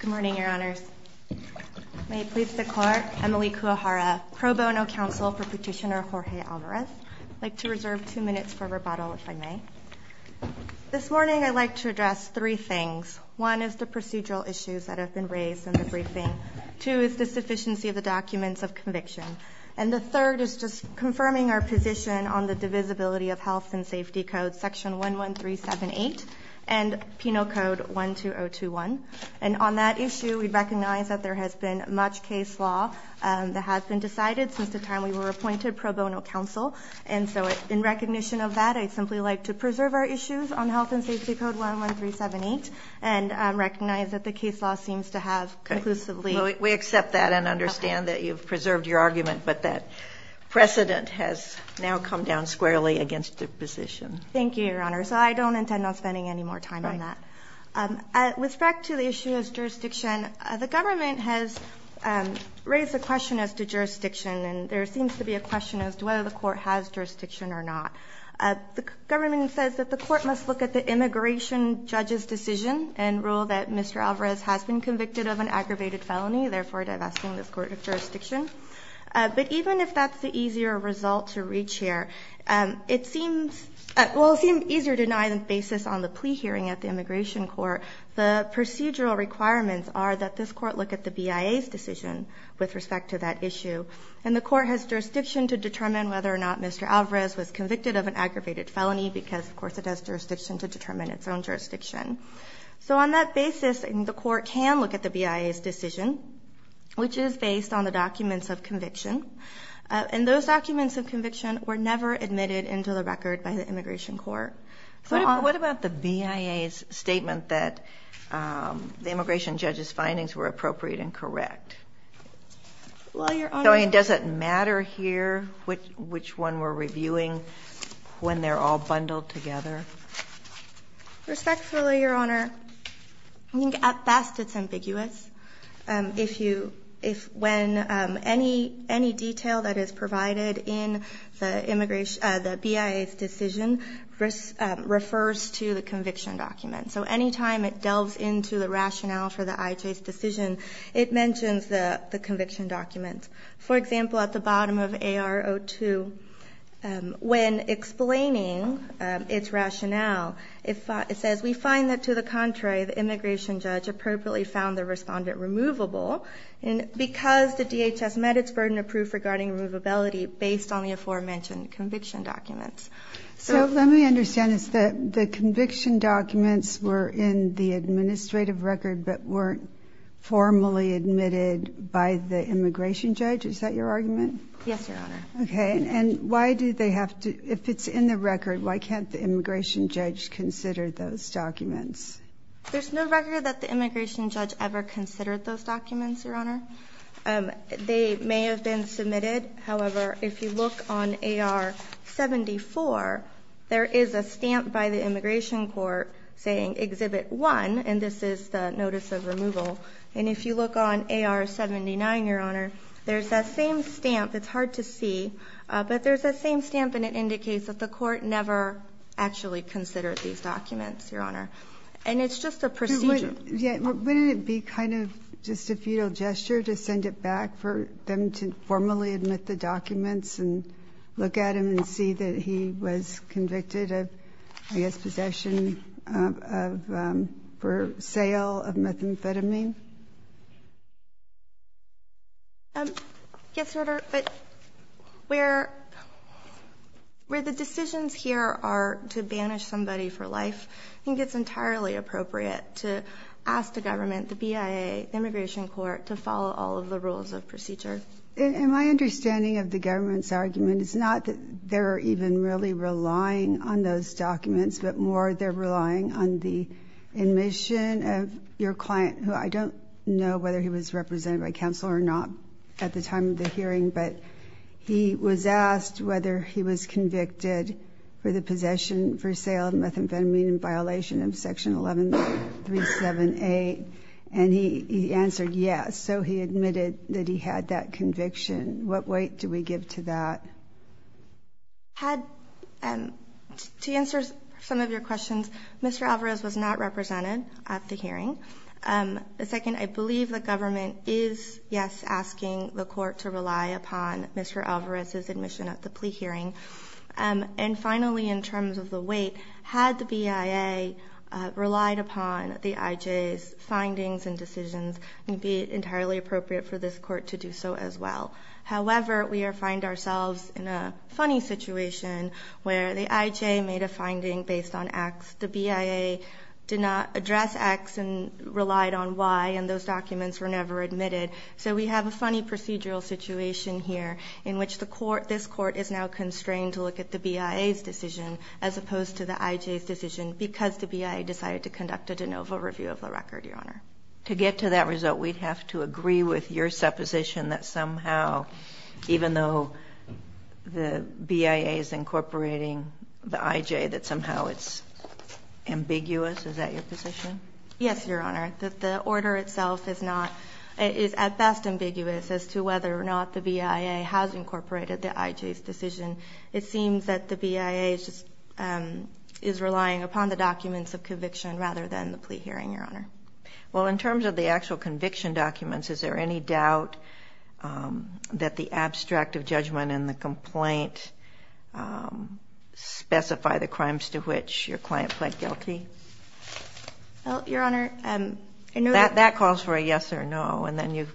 Good morning, Your Honors. May it please the Court, Emily Kuwahara, Pro Bono Counsel for Petitioner Jorge Alvarez. I'd like to reserve two minutes for rebuttal, if I may. This morning I'd like to address three things. One is the procedural issues that have been raised in the briefing. Two is the sufficiency of the documents of conviction. And the third is just confirming our position on the divisibility of Health and Safety Code Section 11378 and Penal Code 12021. And on that issue, we recognize that there has been much case law that has been decided since the time we were appointed Pro Bono Counsel. And so in recognition of that, I'd simply like to preserve our issues on Health and Safety Code 11378 and recognize that the case law seems to have conclusively— I'm sorry to interrupt your argument, but that precedent has now come down squarely against the position. Thank you, Your Honors. So I don't intend on spending any more time on that. With respect to the issue of jurisdiction, the government has raised a question as to jurisdiction. And there seems to be a question as to whether the Court has jurisdiction or not. The government says that the Court must look at the immigration judge's decision and rule that Mr. Alvarez has been convicted of an aggravated felony, therefore divesting this court of jurisdiction. But even if that's the easier result to reach here, it seems—well, it seems easier to deny the basis on the plea hearing at the Immigration Court. The procedural requirements are that this Court look at the BIA's decision with respect to that issue. And the Court has jurisdiction to determine whether or not Mr. Alvarez was convicted of an aggravated felony, because, of course, it has jurisdiction to determine its own jurisdiction. So on that basis, the Court can look at the BIA's decision, which is based on the documents of conviction. And those documents of conviction were never admitted into the record by the Immigration Court. What about the BIA's statement that the immigration judge's findings were appropriate and correct? Well, Your Honor— Does it matter here which one we're reviewing when they're all bundled together? Respectfully, Your Honor, I think at best it's ambiguous. If you—when any detail that is provided in the BIA's decision refers to the conviction document. So any time it delves into the rationale for the IJ's decision, it mentions the conviction document. For example, at the bottom of AR-02, when explaining its rationale, it says, we find that, to the contrary, the immigration judge appropriately found the respondent removable because the DHS met its burden of proof regarding removability based on the aforementioned conviction documents. So let me understand this. The conviction documents were in the administrative record but weren't formally admitted by the immigration judge. Is that your argument? Yes, Your Honor. Okay. And why do they have to—if it's in the record, why can't the immigration judge consider those documents? There's no record that the immigration judge ever considered those documents, Your Honor. They may have been submitted. However, if you look on AR-74, there is a stamp by the Immigration Court saying, Exhibit 1, and this is the notice of removal. And if you look on AR-79, Your Honor, there's that same stamp. It's hard to see, but there's that same stamp, and it indicates that the Court never actually considered these documents, Your Honor. And it's just a procedure. But wouldn't it be kind of just a futile gesture to send it back for them to formally admit the documents and look at them and see that he was convicted of, I guess, possession of—for sale of methamphetamine? Yes, Your Honor. But where the decisions here are to banish somebody for life, I think it's entirely appropriate to ask the government, the BIA, the Immigration Court, to follow all of the rules of procedure. But in my understanding of the government's argument, it's not that they're even really relying on those documents, but more they're relying on the admission of your client, who I don't know whether he was represented by counsel or not at the time of the hearing, but he was asked whether he was convicted for the possession for sale of methamphetamine in violation of Section 11378, and he answered yes. So he admitted that he had that conviction. What weight do we give to that? Had to answer some of your questions, Mr. Alvarez was not represented at the hearing. Second, I believe the government is, yes, asking the Court to rely upon Mr. Alvarez's admission at the plea hearing. And finally, in terms of the weight, had the BIA relied upon the IJ's findings and decisions, it would be entirely appropriate for this Court to do so as well. However, we find ourselves in a funny situation where the IJ made a finding based on X. The BIA did not address X and relied on Y, and those documents were never admitted. So we have a funny procedural situation here in which the Court, this Court, is now constrained to look at the BIA's decision as opposed to the IJ's decision because the BIA decided to conduct a de novo review of the record, Your Honor. To get to that result, we'd have to agree with your supposition that somehow, even though the BIA is incorporating the IJ, that somehow it's ambiguous. Is that your position? Yes, Your Honor. The order itself is not at best ambiguous as to whether or not the BIA has incorporated the IJ's decision. It seems that the BIA is relying upon the documents of conviction rather than the plea hearing, Your Honor. Well, in terms of the actual conviction documents, is there any doubt that the abstract of judgment in the complaint specify the crimes to which your client pled guilty? Well, Your Honor, I know that... That calls for a yes or no, and then if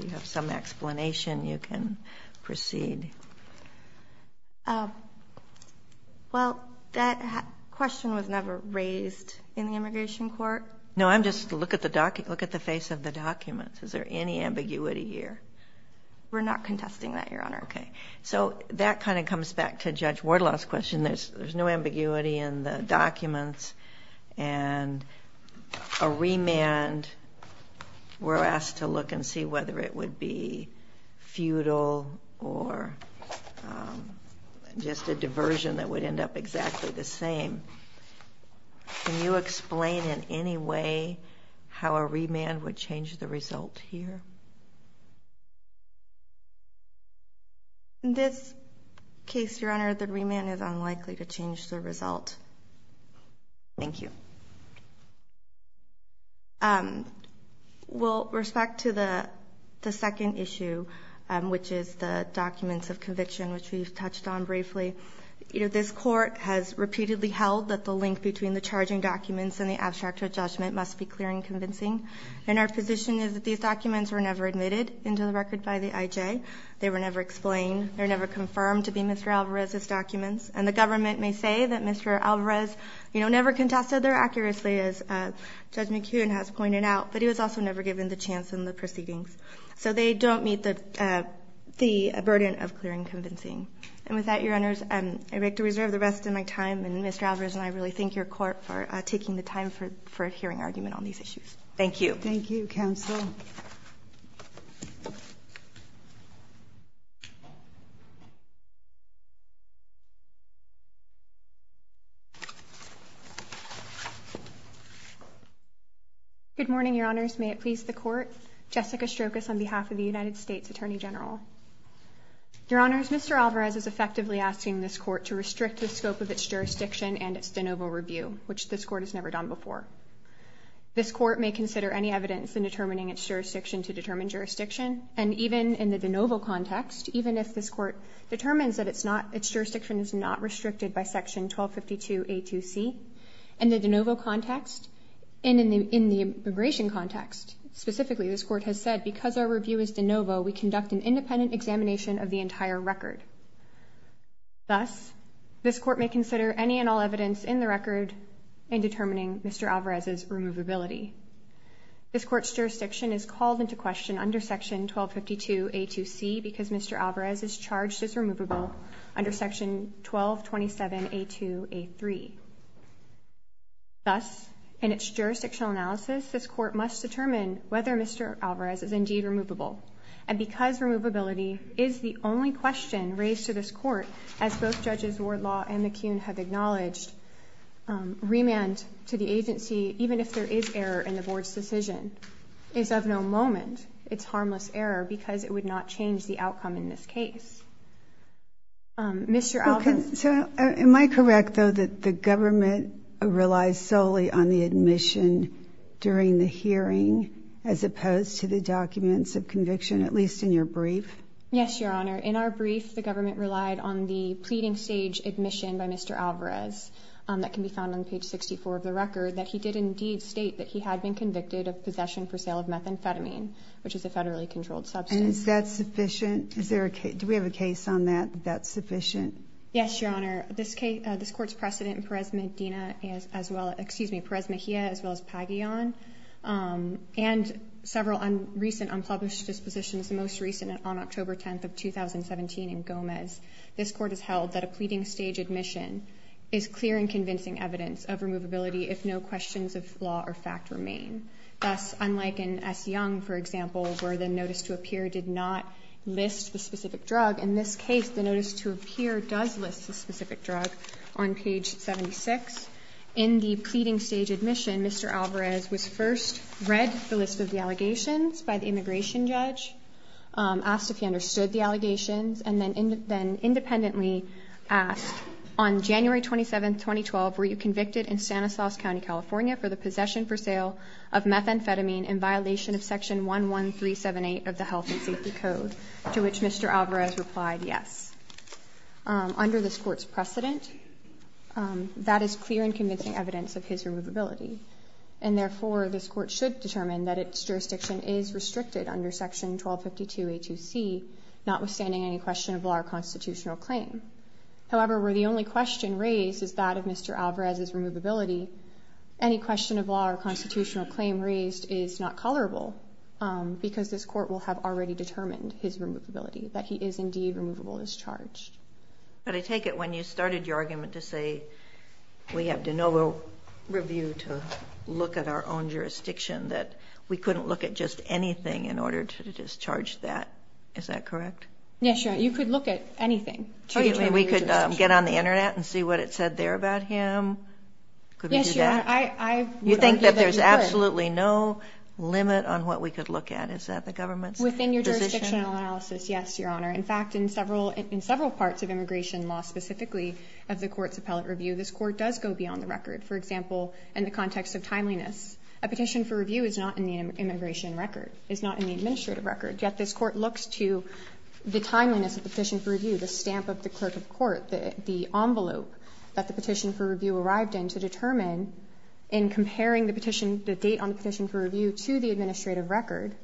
you have some explanation, you can proceed. Well, that question was never raised in the immigration court. No, I'm just... Look at the face of the documents. Is there any ambiguity here? We're not contesting that, Your Honor. Okay. So that kind of comes back to Judge Wardlaw's question. There's no ambiguity in the documents, and a remand, we're asked to look and see whether it would be futile or just a diversion that would end up exactly the same. Can you explain in any way how a remand would change the result here? In this case, Your Honor, the remand is unlikely to change the result. Thank you. With respect to the second issue, which is the documents of conviction, which we've touched on briefly, this court has repeatedly held that the link between the charging documents and the abstract of judgment must be clear and convincing, and our position is that these documents were never admitted into the record by the IJ. They were never explained. They were never confirmed to be Mr. Alvarez's documents, and the government may say that Mr. Alvarez never contested them accurately, as Judge McKeown has pointed out, but he was also never given the chance in the proceedings. So they don't meet the burden of clear and convincing. And with that, Your Honors, I'd like to reserve the rest of my time, and Mr. Alvarez and I really thank your court for taking the time for a hearing argument on these issues. Thank you. Thank you, counsel. Good morning, Your Honors. May it please the Court. Jessica Strokos on behalf of the United States Attorney General. Your Honors, Mr. Alvarez is effectively asking this court to restrict the scope of its jurisdiction and its de novo review, which this court has never done before. This court may consider any evidence in determining its jurisdiction to determine jurisdiction, and even in the de novo context, even if this court determines that its jurisdiction is not restricted by Section 1252A2C, and in the de novo context, and in the immigration context specifically, this court has said because our review is de novo, we conduct an independent examination of the entire record. Thus, this court may consider any and all evidence in the record in determining Mr. Alvarez's removability. This court's jurisdiction is called into question under Section 1252A2C because Mr. Alvarez is charged as removable under Section 1227A2A3. Thus, in its jurisdictional analysis, this court must determine whether Mr. Alvarez is indeed removable, and because removability is the only question raised to this court, as both Judges Wardlaw and McCune have acknowledged, remand to the agency, even if there is error in the board's decision, is of no moment its harmless error because it would not change the outcome in this case. Mr. Alvarez. Am I correct, though, that the government relies solely on the admission during the hearing as opposed to the documents of conviction, at least in your brief? Yes, Your Honor. In our brief, the government relied on the pleading stage admission by Mr. Alvarez that can be found on page 64 of the record, that he did indeed state that he had been convicted of possession for sale of methamphetamine, which is a federally controlled substance. And is that sufficient? Do we have a case on that, that that's sufficient? Yes, Your Honor. This court's precedent in Perez Mejia as well as Pagillon and several recent unpublished dispositions, the most recent on October 10th of 2017 in Gomez, this court has held that a pleading stage admission is clear and convincing evidence of removability if no questions of law or fact remain. Thus, unlike in S. Young, for example, where the notice to appear did not list the specific drug, in this case the notice to appear does list the specific drug on page 76. In the pleading stage admission, Mr. Alvarez was first read the list of the allegations by the immigration judge, asked if he understood the allegations, and then independently asked, on January 27, 2012, were you convicted in Stanislaus County, California, for the possession for sale of methamphetamine in violation of section 11378 of the Health and Safety Code, to which Mr. Alvarez replied yes. Under this court's precedent, that is clear and convincing evidence of his removability. And therefore, this court should determine that its jurisdiction is restricted under section 1252a2c, notwithstanding any question of law or constitutional claim. However, where the only question raised is that of Mr. Alvarez's removability, any question of law or constitutional claim raised is not colorable, because this Court will have already determined his removability, that he is indeed removable as charged. Ginsburg. But I take it when you started your argument to say we have de novo review to look at our own jurisdiction, that we couldn't look at just anything in order to discharge that. Is that correct? Yes, Your Honor. You could look at anything to determine your jurisdiction. Oh, you mean we could get on the Internet and see what it said there about him? Could we do that? Yes, Your Honor. I would argue that you could. You think that there's absolutely no limit on what we could look at? Is that the government's position? Within your jurisdictional analysis, yes, Your Honor. In fact, in several parts of immigration law, specifically of the court's appellate review, this court does go beyond the record. For example, in the context of timeliness, a petition for review is not in the immigration record, is not in the administrative record, yet this court looks to the timeliness of the petition for review, the stamp of the clerk of court, the envelope that the petition for review arrived in to determine in comparing the petition, the date on the petition for review, to the administrative record.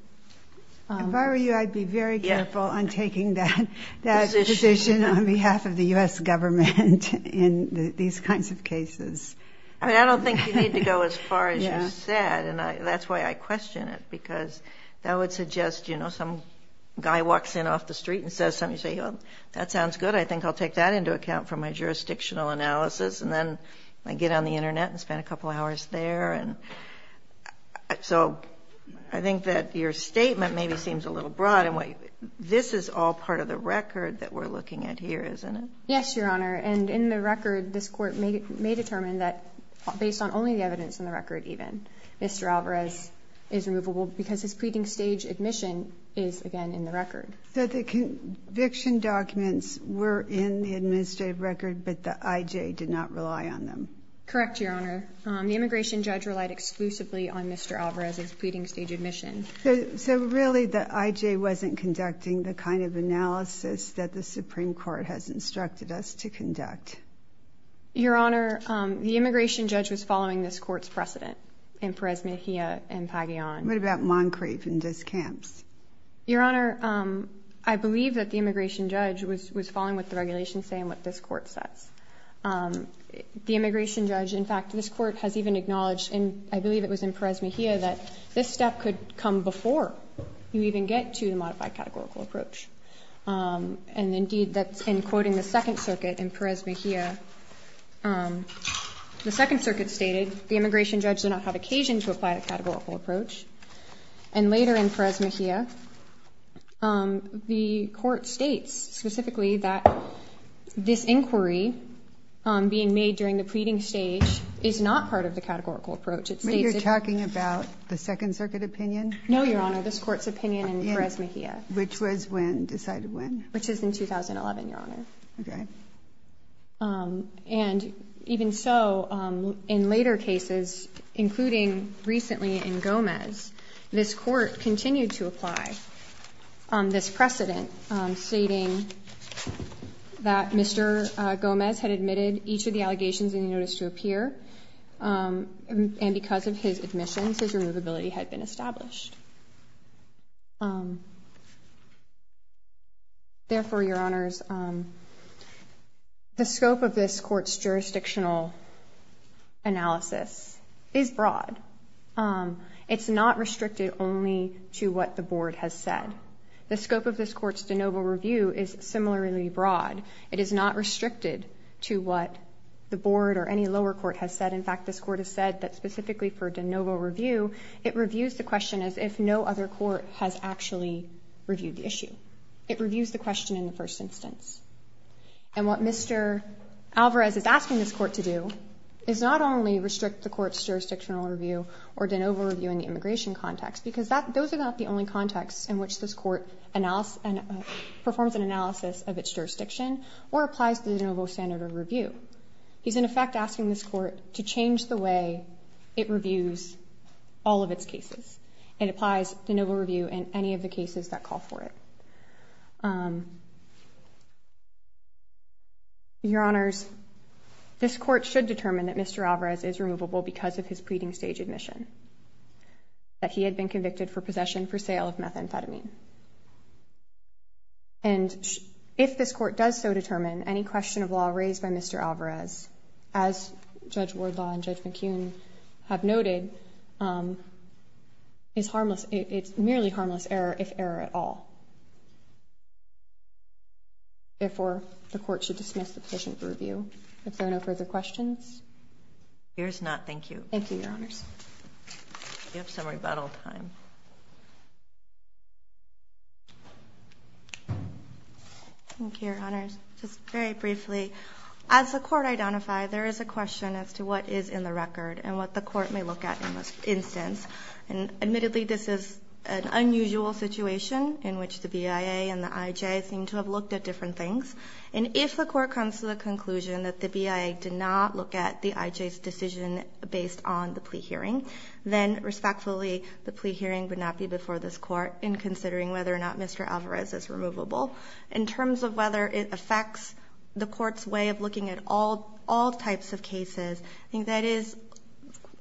If I were you, I'd be very careful on taking that position on behalf of the U.S. government in these kinds of cases. I mean, I don't think you need to go as far as you said, and that's why I question it, because that would suggest, you know, some guy walks in off the street and says something, you say, well, that sounds good. I think I'll take that into account for my jurisdictional analysis, and then I get on the Internet and spend a couple hours there. So I think that your statement maybe seems a little broad. This is all part of the record that we're looking at here, isn't it? Yes, Your Honor. And in the record, this Court may determine that based on only the evidence in the record even, Mr. Alvarez is removable because his pleading stage admission is, again, in the record. So the conviction documents were in the administrative record, but the I.J. did not rely on them? Correct, Your Honor. The immigration judge relied exclusively on Mr. Alvarez's pleading stage admission. So really the I.J. wasn't conducting the kind of analysis that the Supreme Court has instructed us to conduct. Your Honor, the immigration judge was following this Court's precedent in Perez-Mejia and Pagillan. What about Moncrieff and Descamps? Your Honor, I believe that the immigration judge was following what the regulations say and what this Court says. The immigration judge, in fact, this Court has even acknowledged, and I believe it was in Perez-Mejia, that this step could come before you even get to the modified categorical approach. And, indeed, that's in quoting the Second Circuit in Perez-Mejia. The Second Circuit stated the immigration judge did not have occasion to apply the categorical approach. And later in Perez-Mejia, the Court states specifically that this inquiry being made during the pleading stage is not part of the categorical approach. It states that you're talking about the Second Circuit opinion? No, Your Honor. This Court's opinion in Perez-Mejia. Which was when? Decided when? Which is in 2011, Your Honor. Okay. And even so, in later cases, including recently in Gomez, this Court continued to apply this precedent, stating that Mr. Gomez had admitted each of the allegations in the notice to appear, and because of his admissions, his removability had been established. Therefore, Your Honors, the scope of this Court's jurisdictional analysis is broad. It's not restricted only to what the Board has said. The scope of this Court's de novo review is similarly broad. It is not restricted to what the Board or any lower court has said. In fact, this Court has said that specifically for de novo review, it reviews the question as if no other court has actually reviewed the issue. It reviews the question in the first instance. And what Mr. Alvarez is asking this Court to do is not only restrict the Court's jurisdictional review or de novo review in the immigration context, because those are not the only contexts in which this Court performs an analysis of its jurisdiction or applies the de novo standard of review. He's, in effect, asking this Court to change the way it reviews all of its cases and applies de novo review in any of the cases that call for it. Your Honors, this Court should determine that Mr. Alvarez is removable because of his pleading stage admission, that he had been convicted for possession for sale of methamphetamine. And if this Court does so determine, any question of law raised by Mr. Alvarez, as Judge Wardlaw and Judge McKeon have noted, is harmless. It's merely harmless error, if error at all. Therefore, the Court should dismiss the position for review. If there are no further questions. Sotomayor, here's not. Thank you. Thank you, Your Honors. You have some rebuttal time. Thank you, Your Honors. Just very briefly, as the Court identified, there is a question as to what is in the record and what the Court may look at in this instance. And admittedly, this is an unusual situation in which the BIA and the IJ seem to have looked at different things. And if the Court comes to the conclusion that the BIA did not look at the IJ's decision based on the plea hearing, then respectfully, the plea hearing would not be before this Court in considering whether or not Mr. Alvarez is removable. In terms of whether it affects the Court's way of looking at all types of cases, I think that is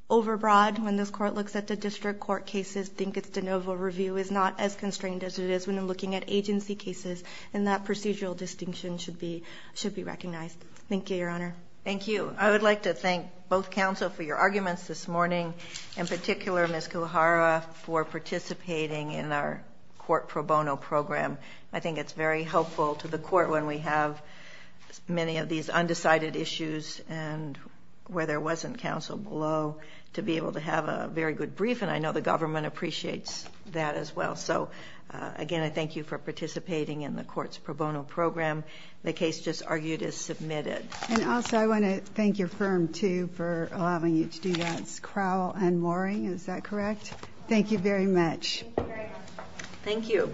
overbroad. When this Court looks at the district court cases, I think its de novo review is not as constrained as it is when looking at agency cases. And that procedural distinction should be recognized. Thank you, Your Honor. Thank you. I would like to thank both counsel for your arguments this morning. In particular, Ms. Kuhara, for participating in our court pro bono program. I think it's very helpful to the Court when we have many of these undecided issues and where there wasn't counsel below to be able to have a very good brief. And I know the government appreciates that as well. So, again, I thank you for participating in the court's pro bono program. The case just argued is submitted. And also, I want to thank your firm, too, for allowing you to do that. It's Crowell and Mooring, is that correct? Thank you very much. Thank you.